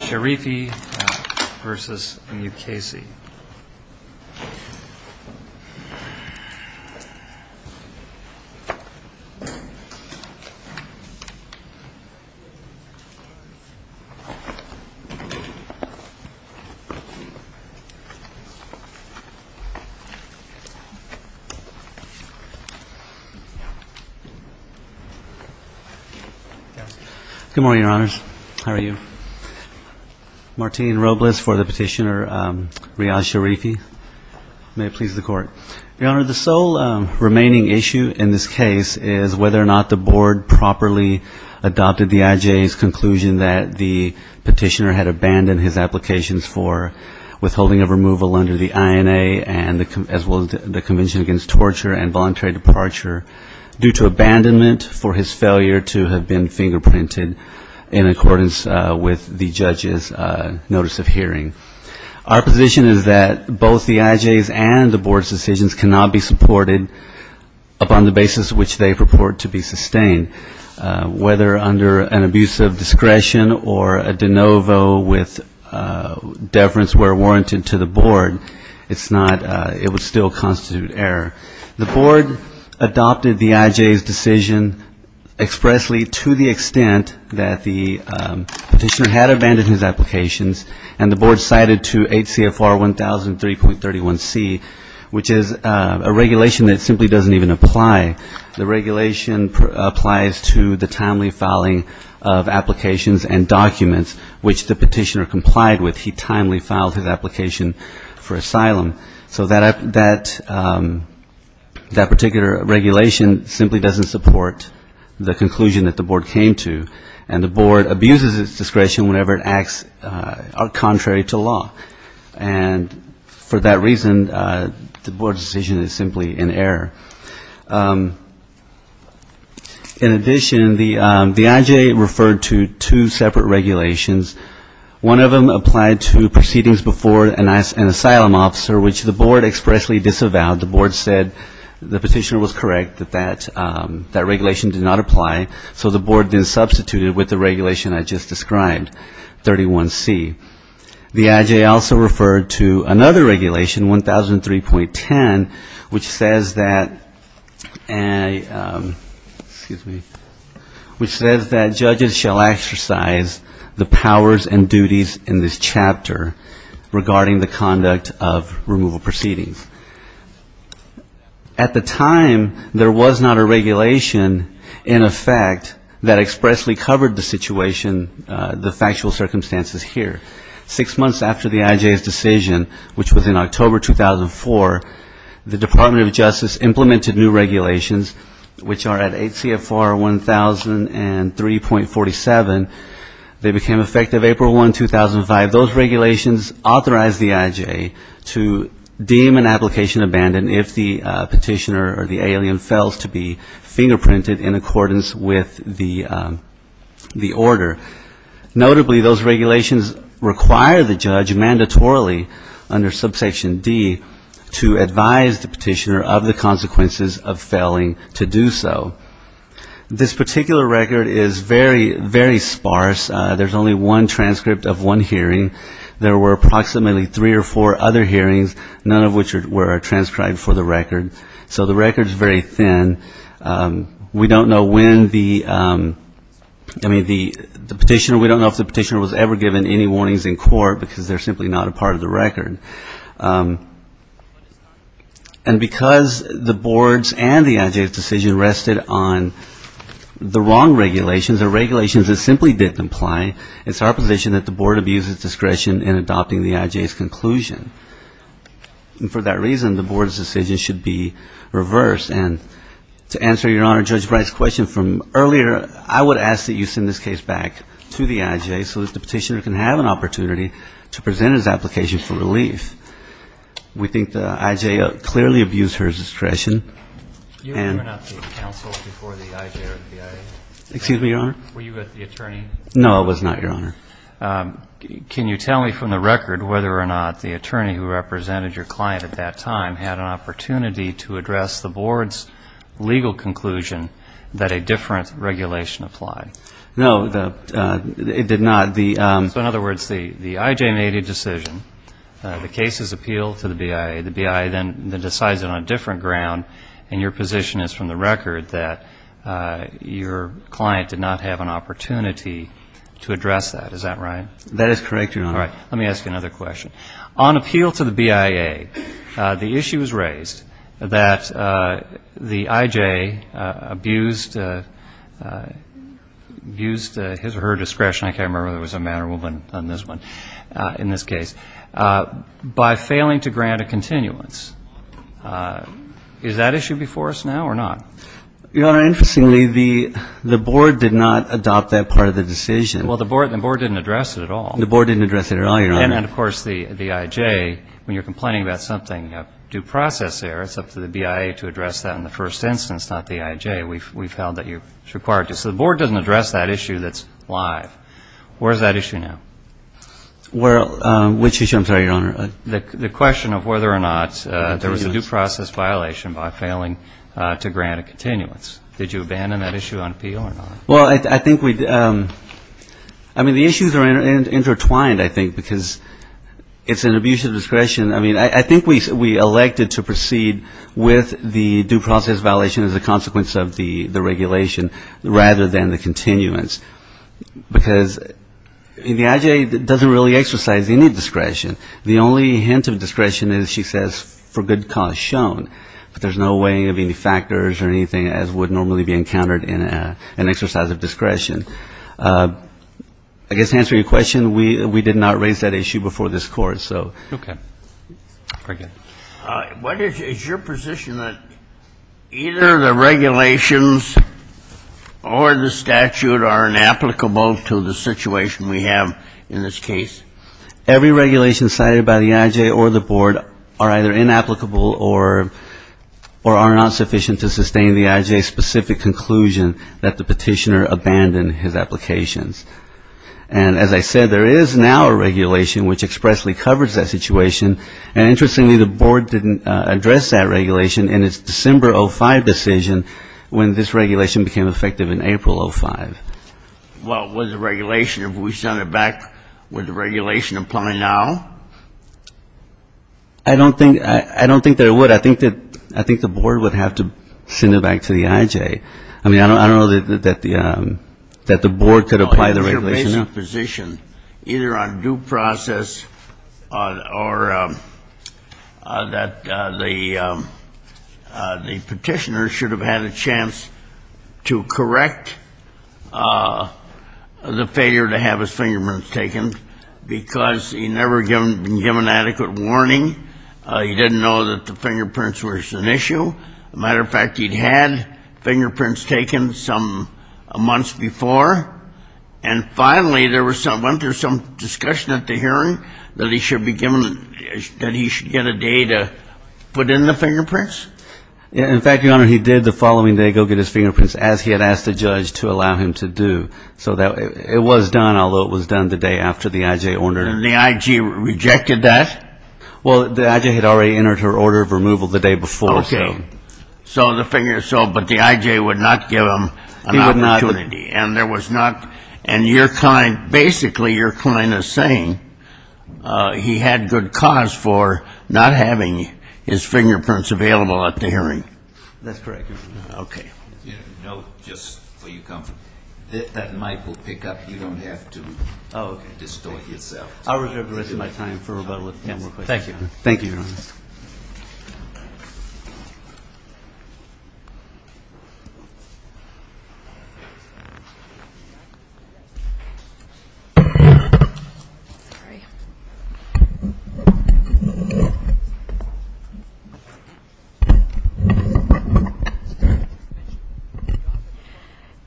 Good morning, Your Honors. How are you? Martin Robles for the Petitioner, Riyaz Sharifi. May it please the Court. Your Honor, the sole remaining issue in this case is whether or not the Board properly adopted the IJA's conclusion that the Petitioner had abandoned his applications for withholding of removal under the INA as well as the Convention Against Torture and Voluntary Departure due to abandonment for his failure to have been fingerprinted in accordance with the judge's notice of hearing. Our position is that both the IJA's and the Board's decisions cannot be supported upon the basis which they purport to be sustained. Whether under an abuse of discretion or a de novo with deference where warranted to the Board, it would still constitute error. The Board adopted the IJA's decision expressly to the extent that the Petitioner had abandoned his applications and the Board cited to 8 CFR 1003.31c, which is a regulation that simply doesn't even apply. The regulation applies to the timely filing of applications and documents which the Petitioner complied with. So that particular regulation simply doesn't support the conclusion that the Board came to, and the Board abuses its discretion whenever it acts contrary to law. And for that reason, the Board's decision is simply in error. In addition, the IJA referred to two separate regulations. One of them applied to proceedings before an asylum officer, which the Board expressly disavowed. The Board said the Petitioner was correct that that regulation did not apply, so the Board then substituted with the regulation I just described, 31c. The IJA also referred to another regulation, 1003.10, which says that judges shall exercise the powers and duties in this chapter regarding the conduct of removal proceedings. At the time, there was not a regulation in effect that expressly covered the situation, the factual circumstances here. Six months after the IJA's decision, which was in October 2004, the Department of Justice implemented new regulations, which are at 8 CFR 1003.47. They became effective April 1, 2005. Those regulations authorized the IJA to deem an application abandoned if the Petitioner or the alien fails to be fingerprinted in accordance with the order. Notably, those regulations require the judge mandatorily under subsection D to advise the Petitioner of the consequences of failing to do so. This particular record is very, very sparse. There's only one transcript of one hearing. There were approximately three or four other hearings, none of which were transcribed for the record. So the record is very thin. We don't know when the, I mean, the Petitioner, we don't know if the Petitioner was ever given any warnings in court, because they're simply not a part of the record. And because the boards and the IJA's decision rested on the wrong regulations or regulations that simply didn't apply, it's our position that the board abuses discretion in adopting the IJA's conclusion. And for that reason, the board's decision should be reversed. And to answer Your Honor, Judge Bright's question from earlier, I would ask that you send this case back to the IJA so that the Petitioner can have an opportunity to present his application for relief. We think the IJA clearly abused her discretion. Excuse me, Your Honor. Were you with the attorney? No, I was not, Your Honor. Can you tell me from the record whether or not the attorney who represented your client at that time had an opportunity to address the board's legal conclusion that a different regulation applied? No, it did not. So in other words, the IJA made a decision, the case is appealed to the BIA, the BIA then decides on a different ground, and your position is from the record that your client did not have an opportunity to address that. Is that right? That is correct, Your Honor. All right. Let me ask you another question. On appeal to the BIA, the issue was raised that the IJA abused his or her discretion, I can't remember whether it was a man or a woman on this one, in this case, by failing to grant a continuance. Is that issue before us now or not? Your Honor, interestingly, the board did not adopt that part of the decision. Well, the board didn't address it at all. The board didn't address it at all, Your Honor. And, of course, the IJA, when you're complaining about something due process there, it's up to the BIA to address that in the first instance, not the IJA. We've held that it's required to. So the board doesn't address that issue that's live. Where is that issue now? Which issue, I'm sorry, Your Honor? The question of whether or not there was a due process violation by failing to grant a continuance. Did you abandon that issue on appeal or not? Well, I think we, I mean, the issues are intertwined, I think, because it's an abuse of discretion. I mean, I think we elected to proceed with the due process violation as a consequence of the regulation rather than the continuance. The IJA doesn't really exercise any discretion. The only hint of discretion is, she says, for good cause shown. But there's no weighing of any factors or anything as would normally be encountered in an exercise of discretion. I guess to answer your question, we did not raise that issue before this Court, so. Okay. Very good. What is your position that either the regulations or the statute are inapplicable to the statute? What is the situation we have in this case? Every regulation cited by the IJA or the Board are either inapplicable or are not sufficient to sustain the IJA's specific conclusion that the petitioner abandoned his applications. And as I said, there is now a regulation which expressly covers that situation. And interestingly, the Board didn't address that regulation in its December 2005 decision when this regulation became effective in April 2005. Well, with the regulation, if we send it back, would the regulation apply now? I don't think that it would. I think the Board would have to send it back to the IJA. I mean, I don't know that the Board could apply the regulation. I think the Board would have to send it back. Is there a possibility that the petitioner should have been in a position, either on due process or that the petitioner should have had a chance to correct the failure to have his fingerprints taken because he never had been given adequate warning? And secondly, there was some discussion at the hearing that he should get a day to put in the fingerprints? In fact, Your Honor, he did the following day go get his fingerprints, as he had asked the judge to allow him to do. So it was done, although it was done the day after the IJA ordered it. And the IJA rejected that? Well, the IJA had already entered her order of removal the day before. Okay. So the finger, but the IJA would not give him an opportunity. And there was not, and your client, basically your client is saying he had good cause for not having his fingerprints available at the hearing. That's correct, Your Honor. Okay. No, just for your comfort, that mic will pick up. You don't have to distort yourself. I'll reserve the rest of my time for rebuttal if you have more questions. Thank you, Your Honor. Thank you, Your Honor.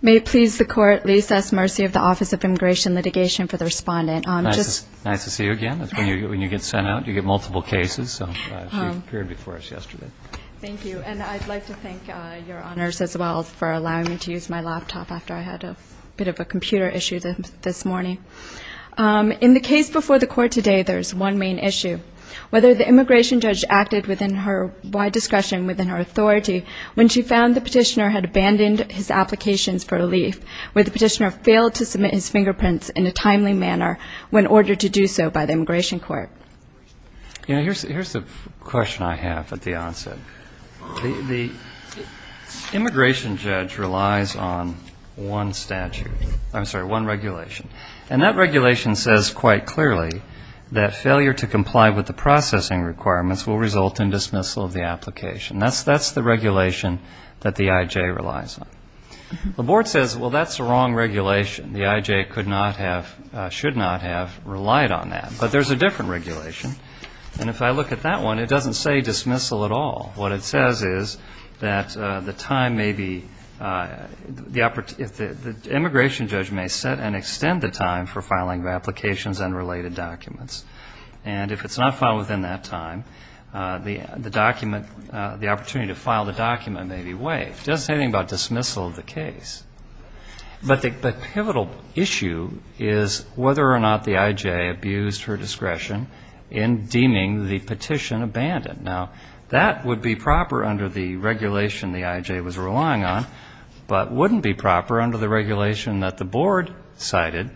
May it please the Court, Lee S. Mercy of the Office of Immigration Litigation, for the respondent. Nice to see you again. That's when you get sent out. You get multiple cases. So she appeared before us yesterday. Thank you. And I'd like to thank Your Honors as well for allowing me to use my laptop after I had a bit of a computer issue this morning. In the case before the Court today, there's one main issue. Whether the immigration judge acted within her wide discretion, within her authority, when she found the petitioner had abandoned his applications for relief, whether the petitioner failed to submit his fingerprints in a timely manner when ordered to do so by the Immigration Court. You know, here's the question I have at the onset. The immigration judge relies on one statute. I'm sorry, one regulation. And that regulation says quite clearly that failure to comply with the processing requirements will result in dismissal of the application. That's the regulation that the IJ relies on. The Board says, well, that's the wrong regulation. The IJ could not have, should not have relied on that. But there's a different regulation. And if I look at that one, it doesn't say dismissal at all. What it says is that the time may be, the immigration judge may set an extended time for filing of applications and related documents. And if it's not filed within that time, the document, the opportunity to file the document may be waived. It doesn't say anything about dismissal of the case. But the pivotal issue is whether or not the IJ abused her discretion in deeming the petition abandoned. Now, that would be proper under the regulation the IJ was relying on, but wouldn't be proper under the regulation that the Board cited.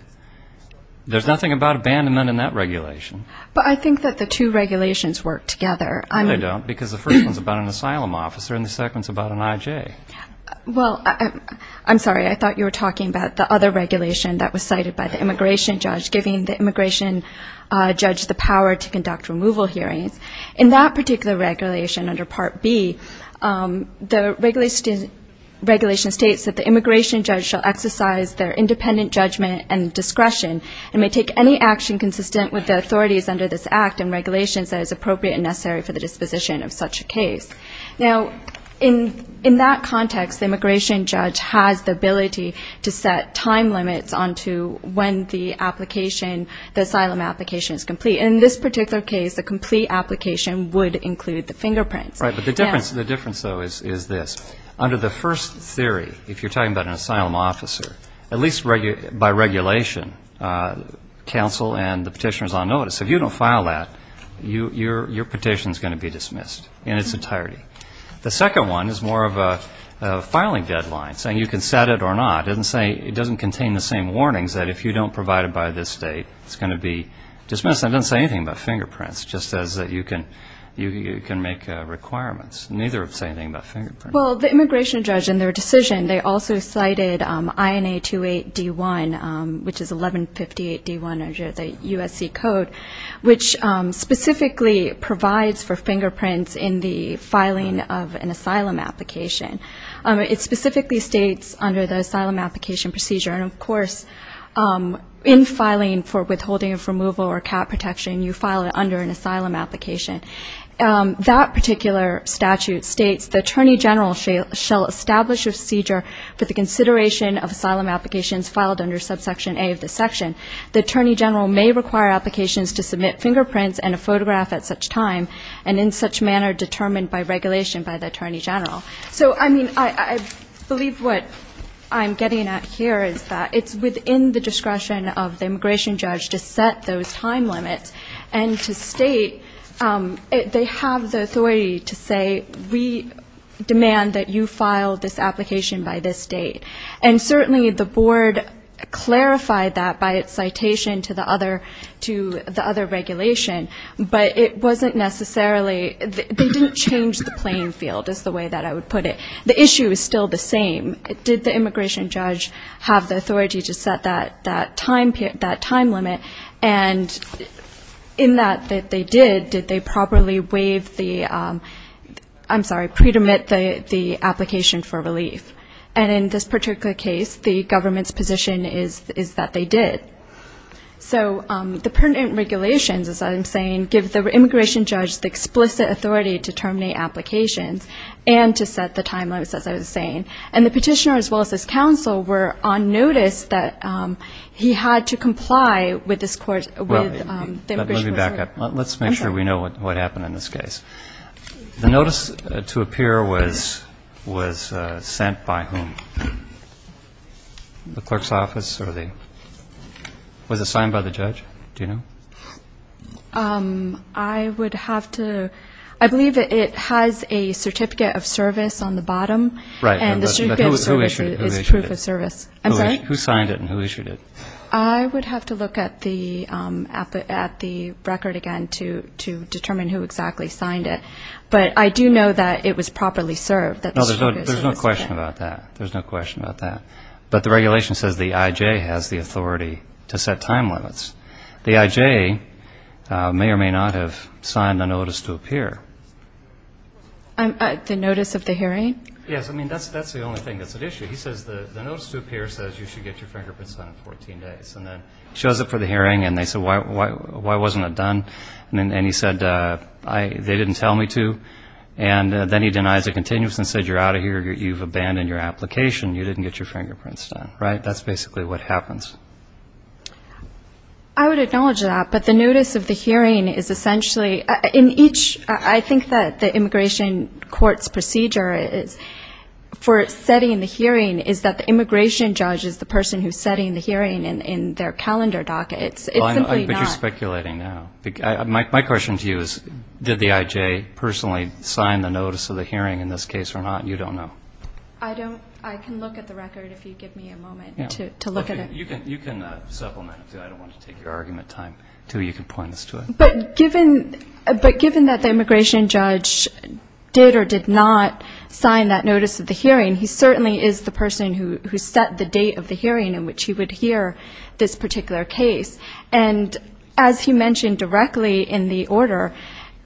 There's nothing about abandonment in that regulation. But I think that the two regulations work together. No, they don't, because the first one's about an asylum officer and the second one's about an IJ. Well, I'm sorry, I thought you were talking about the other regulation that was cited by the immigration judge, giving the immigration judge the power to conduct removal hearings. In that particular regulation under Part B, the regulation states that the immigration judge shall exercise their independent judgment and leave the petition. Now, in that context, the immigration judge has the ability to set time limits on to when the application, the asylum application is complete. And in this particular case, the complete application would include the fingerprints. Right, but the difference, though, is this. Under the first theory, if you're talking about an asylum officer, at least by regulation, counsel and the petitioner's on notice. If you don't file that, your petition's going to be dismissed in its entirety. The second one is more of a filing deadline, saying you can set it or not. It doesn't contain the same warnings that if you don't provide it by this date, it's going to be dismissed. That doesn't say anything about fingerprints, just says that you can make requirements. Neither say anything about fingerprints. Well, the immigration judge in their decision, they also cited INA 28D1, which is 1158D1 under the USC code, which specifically provides for fingerprints in the filing of an asylum application. It specifically states under the asylum application procedure, and of course, in filing for withholding of removal or cap protection, you file it under an asylum application. That particular statute states, the attorney general shall establish a procedure for the consideration of asylum applications filed under subsection A of this section. The attorney general may require applications to submit fingerprints and a photograph at such time, and in such manner determined by regulation by the attorney general. So, I mean, I believe what I'm getting at here is that it's within the discretion of the immigration judge to set those time limits, and to state that, they have the authority to say, we demand that you file this application by this date. And certainly the board clarified that by its citation to the other regulation, but it wasn't necessarily, they didn't change the playing field, is the way that I would put it. The issue is still the same. Did the immigration judge have the authority to set that time limit? And in that they did, did they properly waive the, I'm sorry, pre-dermit the application for relief? And in this particular case, the government's position is that they did. So the pertinent regulations, as I'm saying, give the immigration judge the explicit authority to terminate applications, and to set the time limits, as I was saying. And the petitioner, as well as his counsel, were on notice that he had to comply with this court's, with the immigration court's ruling. Let's make sure we know what happened in this case. The notice to appear was sent by whom? The clerk's office, or the, was it signed by the judge? Do you know? I would have to, I believe it has a certificate of service on the bottom. And the certificate of service is proof of service. I'm sorry? Who signed it and who issued it? I would have to look at the record again to determine who exactly signed it. But I do know that it was properly served. No, there's no question about that. There's no question about that. But the regulation says the IJ has the authority to set time limits. The IJ may or may not have signed the notice to appear. The notice of the hearing? Yes, I mean, that's the only thing that's at issue. He says the notice to appear says you should get your fingerprint signed in 14 days. And then shows up for the hearing, and they say, why wasn't it done? And he said, they didn't tell me to. And then he denies it continuously and said, you're out of here, you've abandoned your application, you didn't get your fingerprints done. Right? That's basically what happens. I would acknowledge that. But the notice of the hearing is essentially, in each, I think that the immigration court's procedure for setting the hearing is that the immigration judge is the person who's setting the hearing in their calendar docket. It's simply not. Why are you speculating now? My question to you is, did the IJ personally sign the notice of the hearing in this case or not? You don't know. I don't. I can look at the record if you give me a moment to look at it. You can supplement it, too. I don't want to take your argument time. You can point us to it. But given that the immigration judge did or did not sign that notice of the hearing, he certainly is the person who set the date of the hearing in which he would hear this particular case. And as he mentioned directly in the order,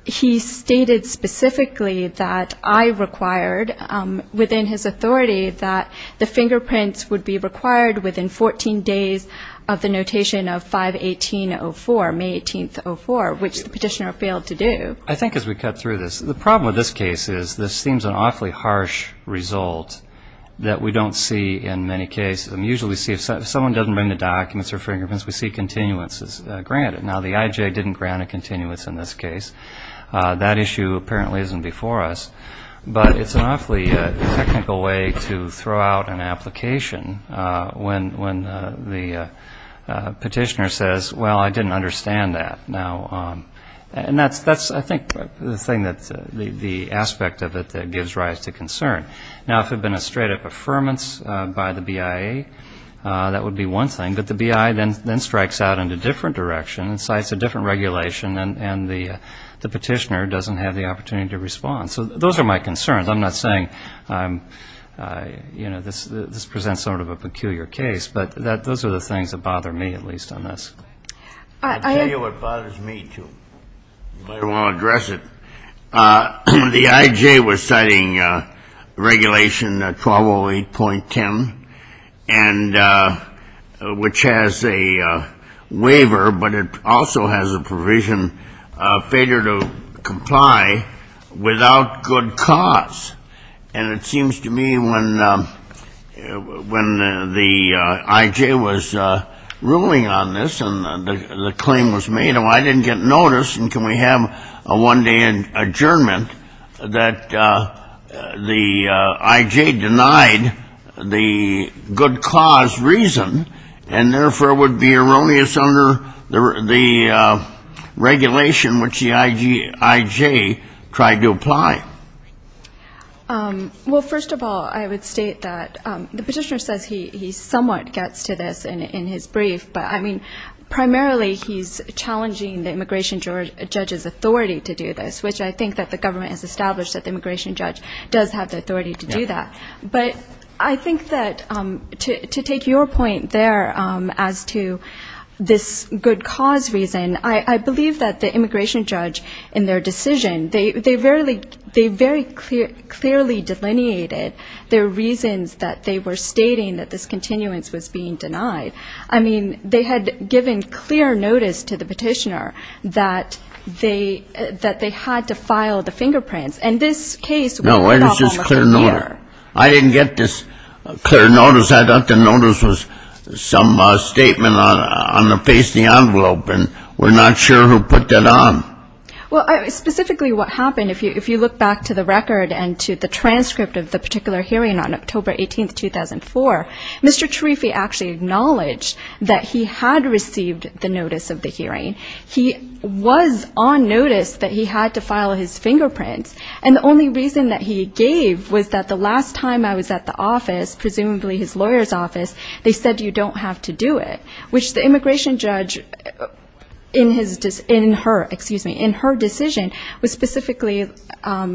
he stated specifically that I required, within his authority, that the fingerprints would be required within 14 days of the notation of 5-18-04, May 18-04, which the petitioner failed to do. I think as we cut through this, the problem with this case is this seems an awfully harsh result that we don't see in many cases. We usually see, if someone doesn't bring the documents or fingerprints, we see continuances granted. Now, the IJ didn't grant a continuance in this case. That issue apparently isn't before us. But it's an awfully technical way to throw out an application when the petitioner says, well, I didn't understand that. And that's, I think, the aspect of it that gives rise to concern. Now, if it had been a straight-up affirmance by the BIA, that would be one thing. But the BIA then strikes out in a different direction and cites a different regulation, and the petitioner doesn't have the opportunity to respond. So those are my concerns. I'm not saying this presents sort of a peculiar case. But those are the things that bother me, at least, on this. I'll tell you what bothers me, too. I don't want to address it. The IJ was citing Regulation 1208.10, which has a waiver, but it also has a provision, failure to comply without good cause. And it seems to me when the IJ was ruling on this, and the IJ was ruling on this, and the IJ was ruling on this, and the claim was made, and I didn't get notice, and can we have a one-day adjournment, that the IJ denied the good cause reason, and therefore would be erroneous under the regulation which the IJ tried to apply. Well, first of all, I would state that the petitioner says he somewhat gets to this in his brief, but, I mean, primarily he's challenging the immigration judge's authority to do this, which I think that the government has established that the immigration judge does have the authority to do that. But I think that to take your point there as to this good cause reason, I believe that the immigration judge in their decision, they very clearly delineated their reasons that they were stating that this continuance was being denied. I mean, they had given clear notice to the petitioner that they had to file the fingerprints. And this case would not have been cleared. No, it was just clear notice. I didn't get this clear notice. I thought the notice was some statement on the face of the envelope, and we're not sure who put that on. Well, specifically what happened, if you look back to the record and to the transcript of the particular hearing on October 18, 2004, Mr. Tarifi actually acknowledged that he had received the notice of the hearing. He was on notice that he had to file his fingerprints. And the only reason that he gave was that the last time I was at the office, presumably his lawyer's office, they said you don't have to do it, which the immigration judge in her decision specifically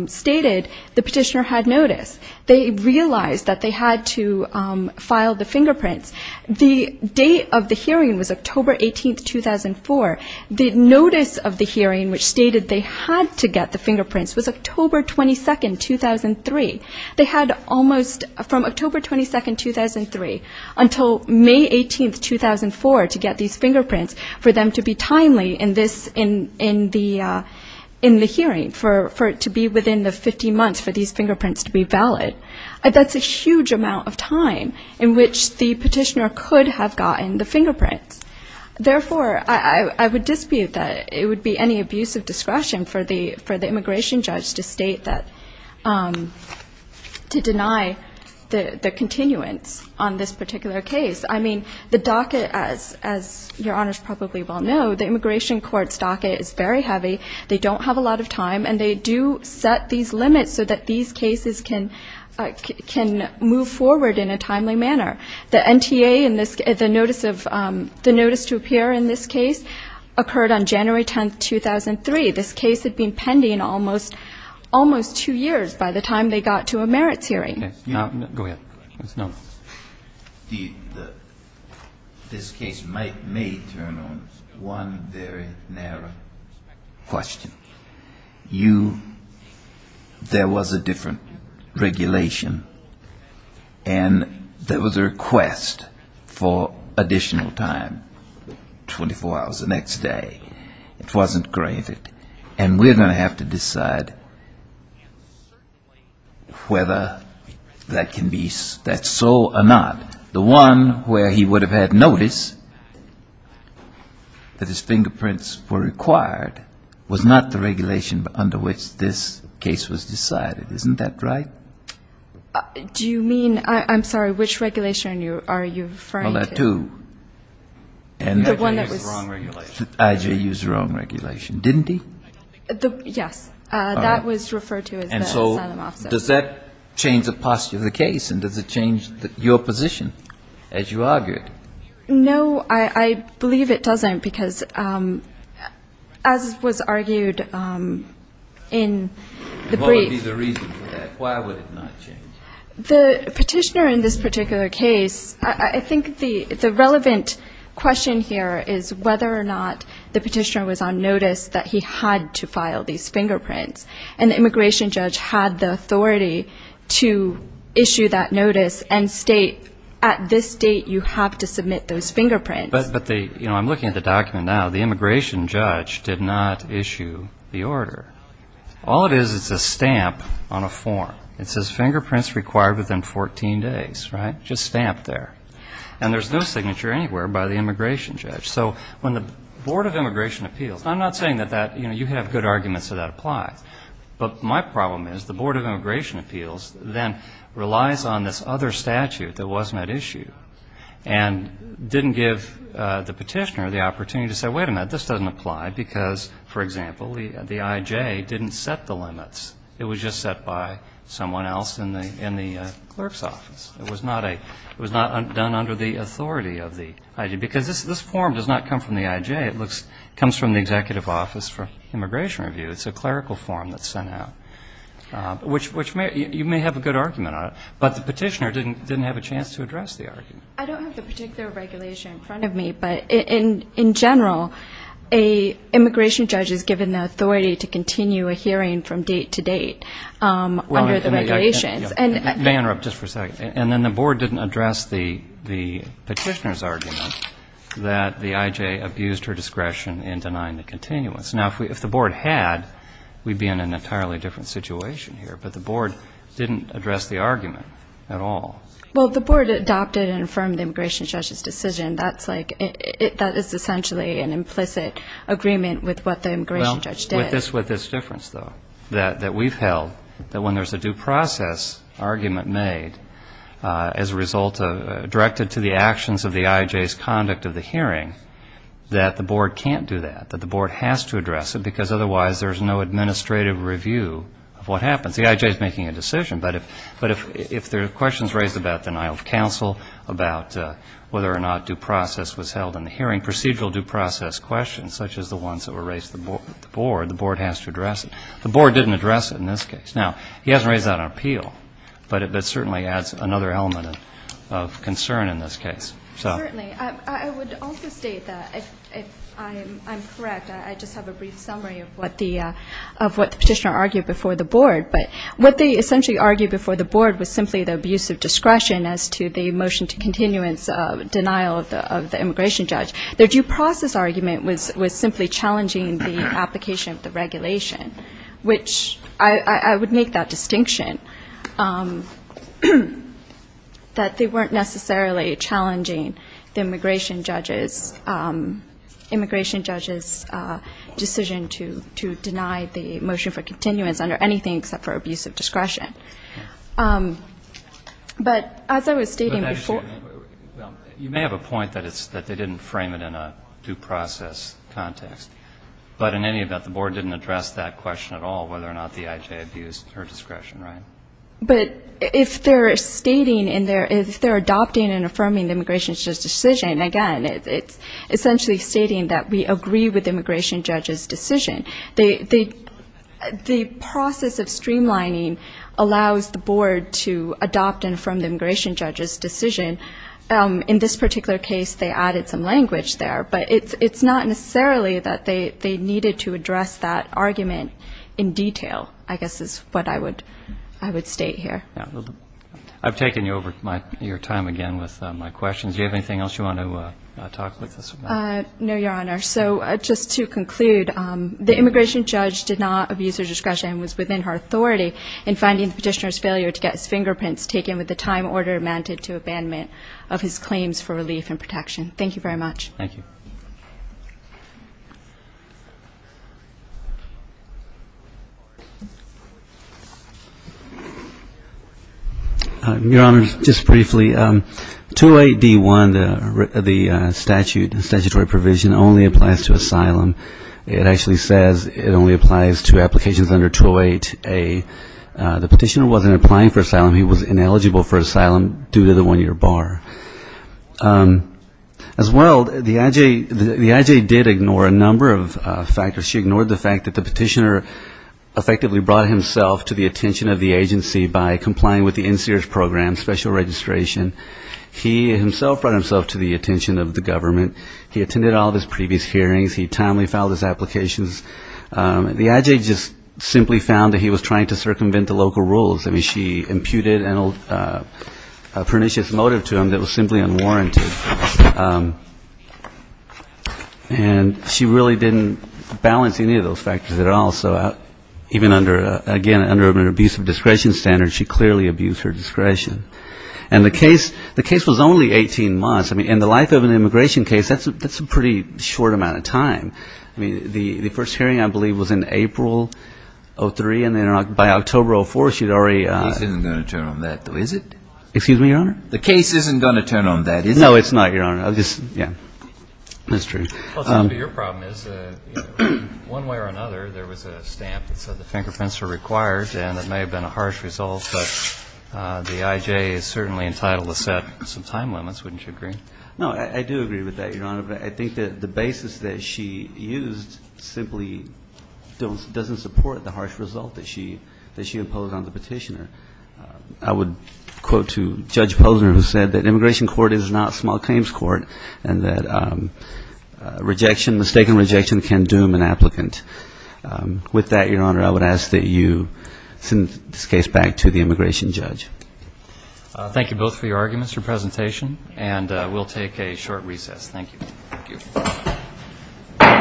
stated the petitioner had notice. They realized that they had to file the fingerprints. The date of the hearing was October 18, 2004. The notice of the hearing which stated they had to get the fingerprints was October 22, 2003. They had almost, from October 22, 2003 until May 18, 2004 to get these fingerprints for them to be timely in this, in the hearing, for it to be within the 15 months for these fingerprints to be valid. That's a huge amount of time in which the petitioner could have gotten the fingerprints. Therefore, I would dispute that it would be any abuse of discretion for the immigration judge to state that the petitioner could have gotten the fingerprints. I would also dispute that it would be any abuse of discretion to deny the continuance on this particular case. I mean, the docket, as Your Honors probably well know, the immigration court's docket is very heavy. They don't have a lot of time, and they do set these limits so that these cases can move forward in a timely manner. The NTA in this, the notice of, the notice to appear in this case occurred on January 10, 2003. This case had been pending almost two years by the time they got to a merits hearing. Go ahead. This case may turn on one very narrow question. You, there was a different regulation, and there was a request for additional time, 24 hours the next day. It wasn't granted, and we're going to have to decide whether that can be, that's so or not. The one where he would have had notice that his fingerprints were required was not the regulation under which this case was decided. Isn't that right? Do you mean, I'm sorry, which regulation are you referring to? IJU's wrong regulation, didn't he? Yes, that was referred to as the asylum officer. And so does that change the posture of the case, and does it change your position as you argue it? No, I believe it doesn't, because as was argued in the brief. What would be the reason for that? Why would it not change? The petitioner in this particular case, I think the relevant question here is whether or not the petitioner was on notice that he had to file these fingerprints. And the immigration judge had the authority to issue that notice and state at this date you have to submit those fingerprints. But the, you know, I'm looking at the document now. The immigration judge did not issue the order. All it is, it's a stamp on a form. It says fingerprints required within 14 days, right? Just stamped there. And there's no signature anywhere by the immigration judge. So when the Board of Immigration Appeals, and I'm not saying that that, you know, you have good arguments that that applies. But my problem is the Board of Immigration Appeals then relies on this other statute that wasn't at issue and didn't give the petitioner the opportunity to say, wait a minute, this doesn't apply, because, for example, the IJ didn't set the limits. It was just set by someone else in the clerk's office. It was not done under the authority of the IJ. Because this form does not come from the IJ. It comes from the Executive Office for Immigration Review. It's a clerical form that's sent out, which you may have a good argument on it. But the petitioner didn't have a chance to address the argument. I don't have the particular regulation in front of me, but in general, an immigration judge is given the authority to continue a hearing from date to date under the regulations. And then the board didn't address the petitioner's argument that the IJ abused her discretion in denying the continuance. Now, if the board had, we'd be in an entirely different situation here. But the board didn't address the argument at all. Well, the board adopted and affirmed the immigration judge's decision. That's like, that is essentially an implicit agreement with what the immigration judge did. Well, with this difference, though, that we've held, that when there's a due process argument made as a result of, directed to the actions of the IJ's conduct of the hearing, that the board can't do that, that the board has to address it, because otherwise there's no administrative review of what happens. The IJ is making a decision, but if there are questions raised about the denial of counsel, about whether or not due process was held in the hearing, procedural due process questions, such as the ones that were raised with the board, the board has to address it. The board didn't address it in this case. Now, he hasn't raised that on appeal, but it certainly adds another element of concern in this case. Certainly. I would also state that, if I'm correct, I just have a brief summary of what the petitioner argued before the board. But what they essentially argued before the board was simply the abuse of discretion as to the motion to continuance of denial of the immigration judge. Their due process argument was simply challenging the application of the regulation, which I would make that distinction, that they weren't necessarily challenging the immigration judge's decision to deny the motion for continuance under anything except for abuse of discretion. But as I was stating before you may have a point that they didn't frame it in a due process context, but in any event the board didn't address that question at all, whether or not the I.J. abused her discretion, right? But if they're stating in their, if they're adopting and affirming the immigration judge's decision, again, it's essentially stating that we agree with the immigration judge's decision. The process of streamlining allows the board to adopt and affirm the immigration judge's decision. In this particular case they added some language there, but it's not necessarily that they needed to address that argument in detail, I guess is what I would state here. I've taken you over your time again with my questions. Do you have anything else you want to talk about? No, Your Honor. So just to conclude, the immigration judge did not abuse her discretion and was within her authority in finding the petitioner's fingerprints taken with the time order amounted to abandonment of his claims for relief and protection. Thank you very much. Your Honor, just briefly, 208D1, the statute, the statutory provision only applies to asylum. It actually says it only applies to applications under 208A. The petitioner wasn't applying for asylum, he was ineligible for asylum due to the one-year bar. As well, the I.J. did ignore a number of factors. She ignored the fact that the petitioner effectively brought himself to the attention of the agency by complying with the NSEERS program, special registration. He himself brought himself to the attention of the government. He attended all of his previous hearings. He timely filed his applications. The I.J. just simply found that he was trying to circumvent the local rules. I mean, she imputed a pernicious motive to him that was simply unwarranted. And she really didn't balance any of those factors at all. So even under, again, under an abuse of discretion standard, she clearly abused her discretion. And the case was only 18 months. I mean, in the life of an immigration case, that's a pretty short amount of time. I mean, the first hearing, I believe, was in April of 2003. And then by October of 2004, she had already... The case isn't going to turn on that, though, is it? Excuse me, Your Honor? The case isn't going to turn on that, is it? No, it's not, Your Honor. I'll just... Yeah, that's true. But your problem is, one way or another, there was a stamp that said the fingerprints are required, and it may have been a harsh result, but the I.J. is certainly entitled to set some time limits. Wouldn't you agree? No, I do agree with that, Your Honor. But I think that the basis that she used simply doesn't support the harsh result that she imposed on the Petitioner. I would quote to Judge Posner, who said that an immigration court is not a small claims court, and that rejection, mistaken rejection, can doom an applicant. With that, Your Honor, I would ask that you send this case back to the immigration judge. Thank you both for your arguments, your presentation, and we'll take a short recess. Thank you.